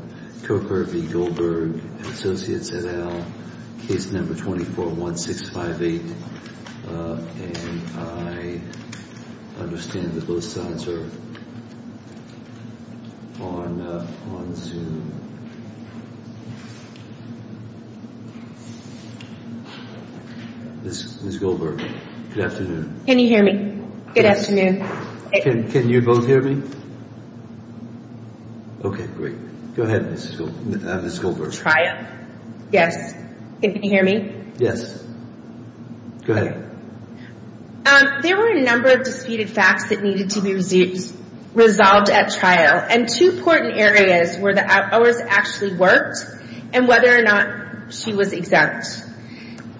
et al., Case No. 241658, and I understand that both sides are on Zoom. Ms. Goldberg, good afternoon. Can you hear me? Good afternoon. Can you both hear me? Okay, great. Go ahead, Ms. Goldberg. Trial? Yes. Can you hear me? Yes. Go ahead. There were a number of disputed facts that needed to be resolved at trial, and two important areas were that ours actually worked and whether or not she was exempt.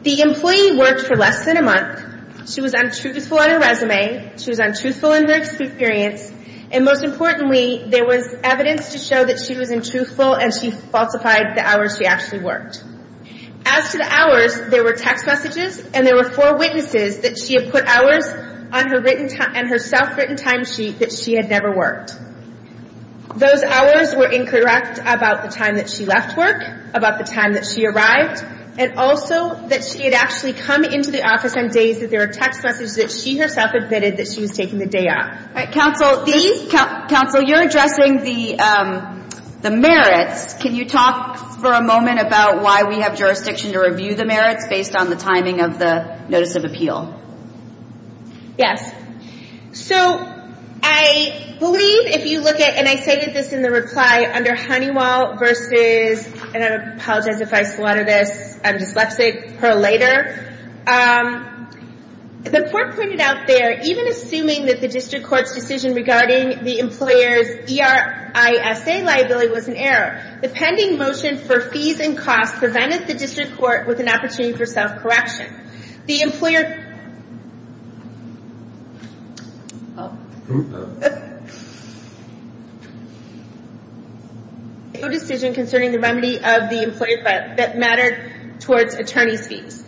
The employee worked for less than a month. She was untruthful on her resume. She was untruthful in her experience. And most importantly, there was evidence to show that she was untruthful and she falsified the hours she actually worked. As to the hours, there were text messages and there were four witnesses that she had put hours on her self-written time sheet that she had never worked. Those hours were incorrect about the time that she left work, about the time that she arrived, and also that she had actually come into the office on days that there were text messages that she herself admitted that she was taking the day off. All right. Counsel, you're addressing the merits. Can you talk for a moment about why we have jurisdiction to review the merits based on the timing of the notice of appeal? Yes. So I believe if you look at, and I stated this in the reply, under Honeywell versus, and I apologize if I slaughter this, I'm dyslexic, her later, the court pointed out there, even assuming that the district court's decision regarding the employer's ERISA liability was an error, the pending motion for fees and costs prevented the district court with an opportunity for self-correction. The employer... Oh. No decision concerning the remedy of the employer that mattered towards attorney's fees.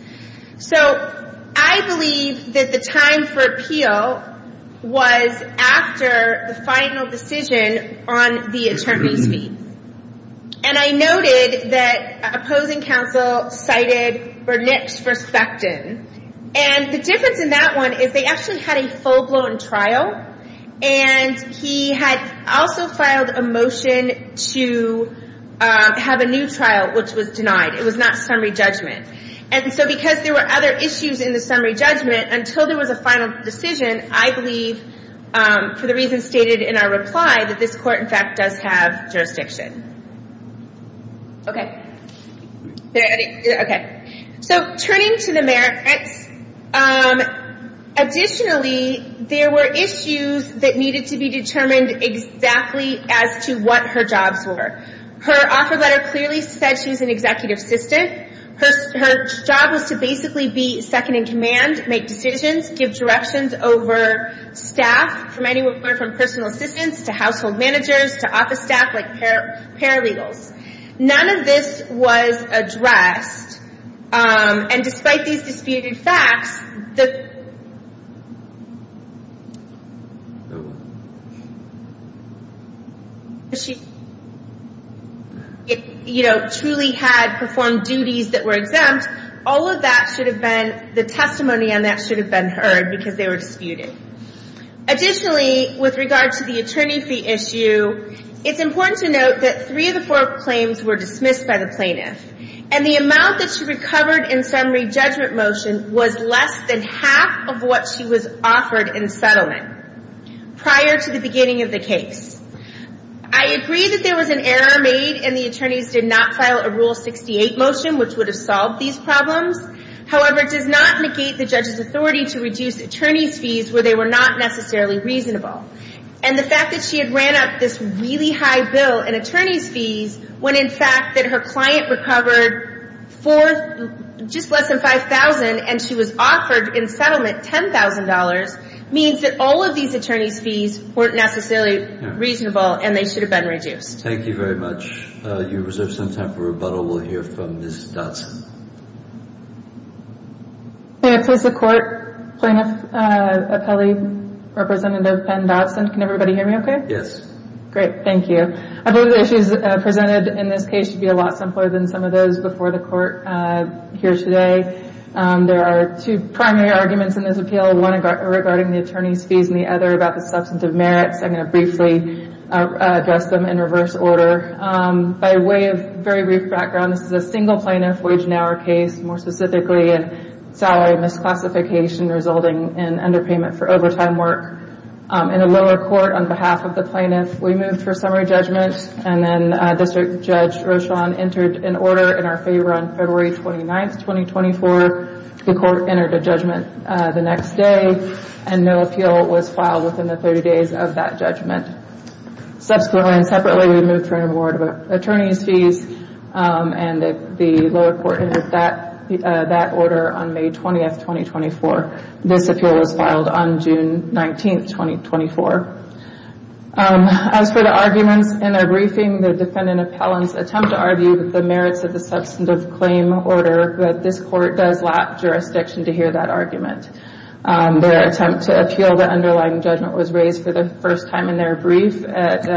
So I believe that the time for appeal was after the final decision on the attorney's fees. And I noted that opposing counsel cited Bernix versus Becton. And the difference in that one is they actually had a full-blown trial, and he had also filed a motion to have a new trial, which was denied. It was not summary judgment. And so because there were other issues in the summary judgment, until there was a final decision, I believe, for the reasons stated in our reply, that this court, in fact, does have jurisdiction. So turning to the merits, additionally, there were issues that needed to be determined exactly as to what her jobs were. Her offer letter clearly said she was an executive assistant. Her job was to basically be second-in-command, make decisions, give directions over staff from personal assistants to household managers to office staff, like paralegals. None of this was addressed. And despite these disputed facts, she truly had performed duties that were exempt. All of that should have been, the testimony on that should have been heard because they were disputed. Additionally, with regard to the attorney fee issue, it's important to note that three of the four claims were dismissed by the plaintiff. And the amount that she recovered in summary judgment motion was less than half of what she was offered in settlement prior to the beginning of the case. I agree that there was an error made, and the attorneys did not file a Rule 68 motion, which would have solved these problems. However, it does not negate the judge's authority to reduce attorneys' fees where they were not necessarily reasonable. And the fact that she had ran up this really high bill in attorneys' fees when, in fact, that her client recovered just less than $5,000 and she was offered in settlement $10,000 means that all of these attorneys' fees weren't necessarily reasonable and they should have been reduced. Thank you very much. You reserve some time for rebuttal. We'll hear from Ms. Dodson. May I please have the Court plaintiff, appellee, Representative Ben Dodson? Can everybody hear me okay? Yes. Great. Thank you. I believe the issues presented in this case should be a lot simpler than some of those before the Court here today. There are two primary arguments in this appeal, one regarding the attorneys' fees and the other about the substantive merits. I'm going to briefly address them in reverse order. By way of very brief background, this is a single plaintiff wage and hour case, more specifically in salary misclassification resulting in underpayment for overtime work. In a lower court, on behalf of the plaintiff, we moved for summary judgment and then District Judge Rochon entered an order in our favor on February 29, 2024. The Court entered a judgment the next day and no appeal was filed within the 30 days of that judgment. Subsequently and separately, we moved for an award of attorneys' fees and the lower court entered that order on May 20, 2024. This appeal was filed on June 19, 2024. As for the arguments in our briefing, the defendant appellants attempt to argue the merits of the substantive claim order, but this Court does lap jurisdiction to hear that argument. Their attempt to appeal the underlying judgment was raised for the first time in their brief at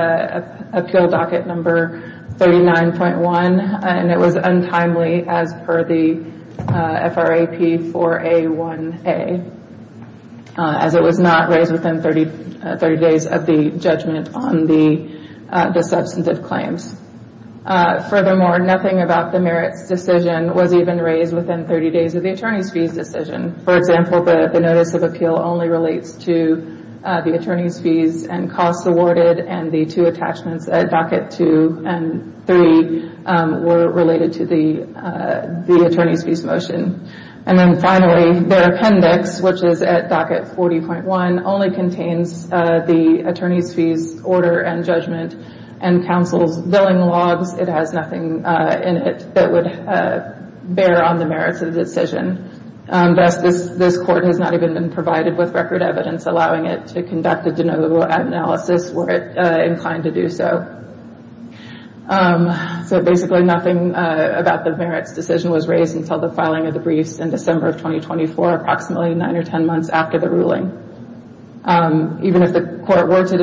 appeal docket number 39.1, and it was untimely as per the FRAP 4A1A, as it was not raised within 30 days of the judgment on the substantive claims. Furthermore, nothing about the merits decision was even raised within 30 days of the attorneys' fees decision. For example, the notice of appeal only relates to the attorneys' fees and costs awarded and the two attachments at docket 2 and 3 were related to the attorneys' fees motion. Finally, their appendix, which is at docket 40.1, only contains the attorneys' fees order and judgment and counsel's billing logs. It has nothing in it that would bear on the merits of the decision. Thus, this Court has not even been provided with record evidence allowing it to conduct a de novo analysis were it inclined to do so. Basically, nothing about the merits decision was raised until the filing of the briefs in December of 2024, approximately nine or ten months after the ruling. Even if the Court were to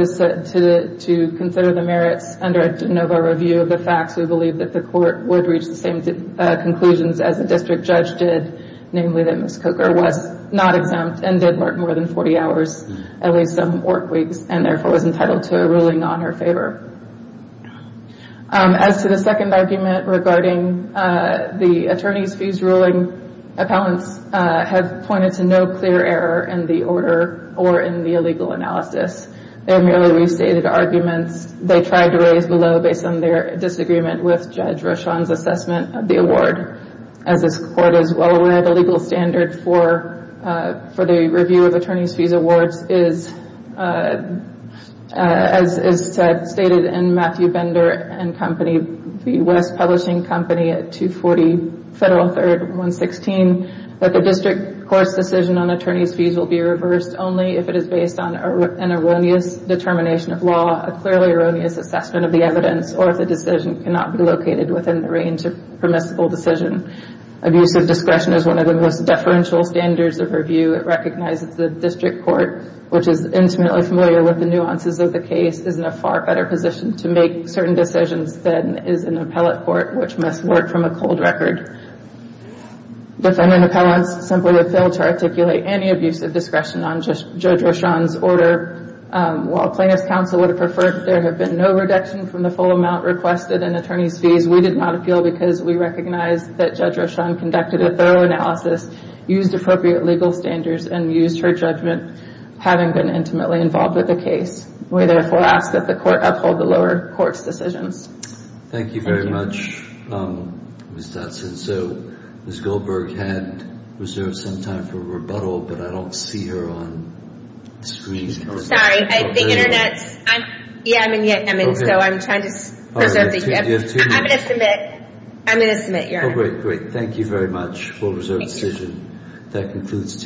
consider the merits under a de novo review of the facts, we believe that the Court would reach the same conclusions as the district judge did, namely that Ms. Coker was not exempt and did work more than 40 hours, at least some work weeks, and therefore was entitled to a ruling on her favor. As to the second argument regarding the attorneys' fees ruling, appellants have pointed to no clear error in the order or in the legal analysis. They are merely restated arguments they tried to raise below based on their disagreement with Judge Rochon's assessment of the award. As this Court is well aware, the legal standard for the review of attorneys' fees awards is, as stated in Matthew Bender and Company, the West Publishing Company at 240 Federal 3rd, 116, that the district court's decision on attorneys' fees will be reversed only if it is based on an erroneous determination of law, a clearly erroneous assessment of the evidence, or if the decision cannot be located within the range of permissible decision. Abusive discretion is one of the most deferential standards of review. It recognizes the district court, which is intimately familiar with the nuances of the case, is in a far better position to make certain decisions than is an appellate court, which must work from a cold record. Defending appellants simply would fail to articulate any abusive discretion on Judge Rochon's order. While plaintiff's counsel would have preferred there have been no reduction from the full amount requested in attorneys' fees, we did not appeal because we recognize that Judge Rochon conducted a thorough analysis, used appropriate legal standards, and used her judgment, having been intimately involved with the case. We therefore ask that the Court uphold the lower court's decisions. Thank you very much, Ms. Dotson. So, Ms. Goldberg had reserved some time for rebuttal, but I don't see her on the screen. Sorry, the Internet's... Yeah, I'm in, so I'm trying to preserve the... I'm going to submit. I'm going to submit, Your Honor. Oh, great, great. Thank you very much. Full reserve decision. Thank you. That concludes today's hearing.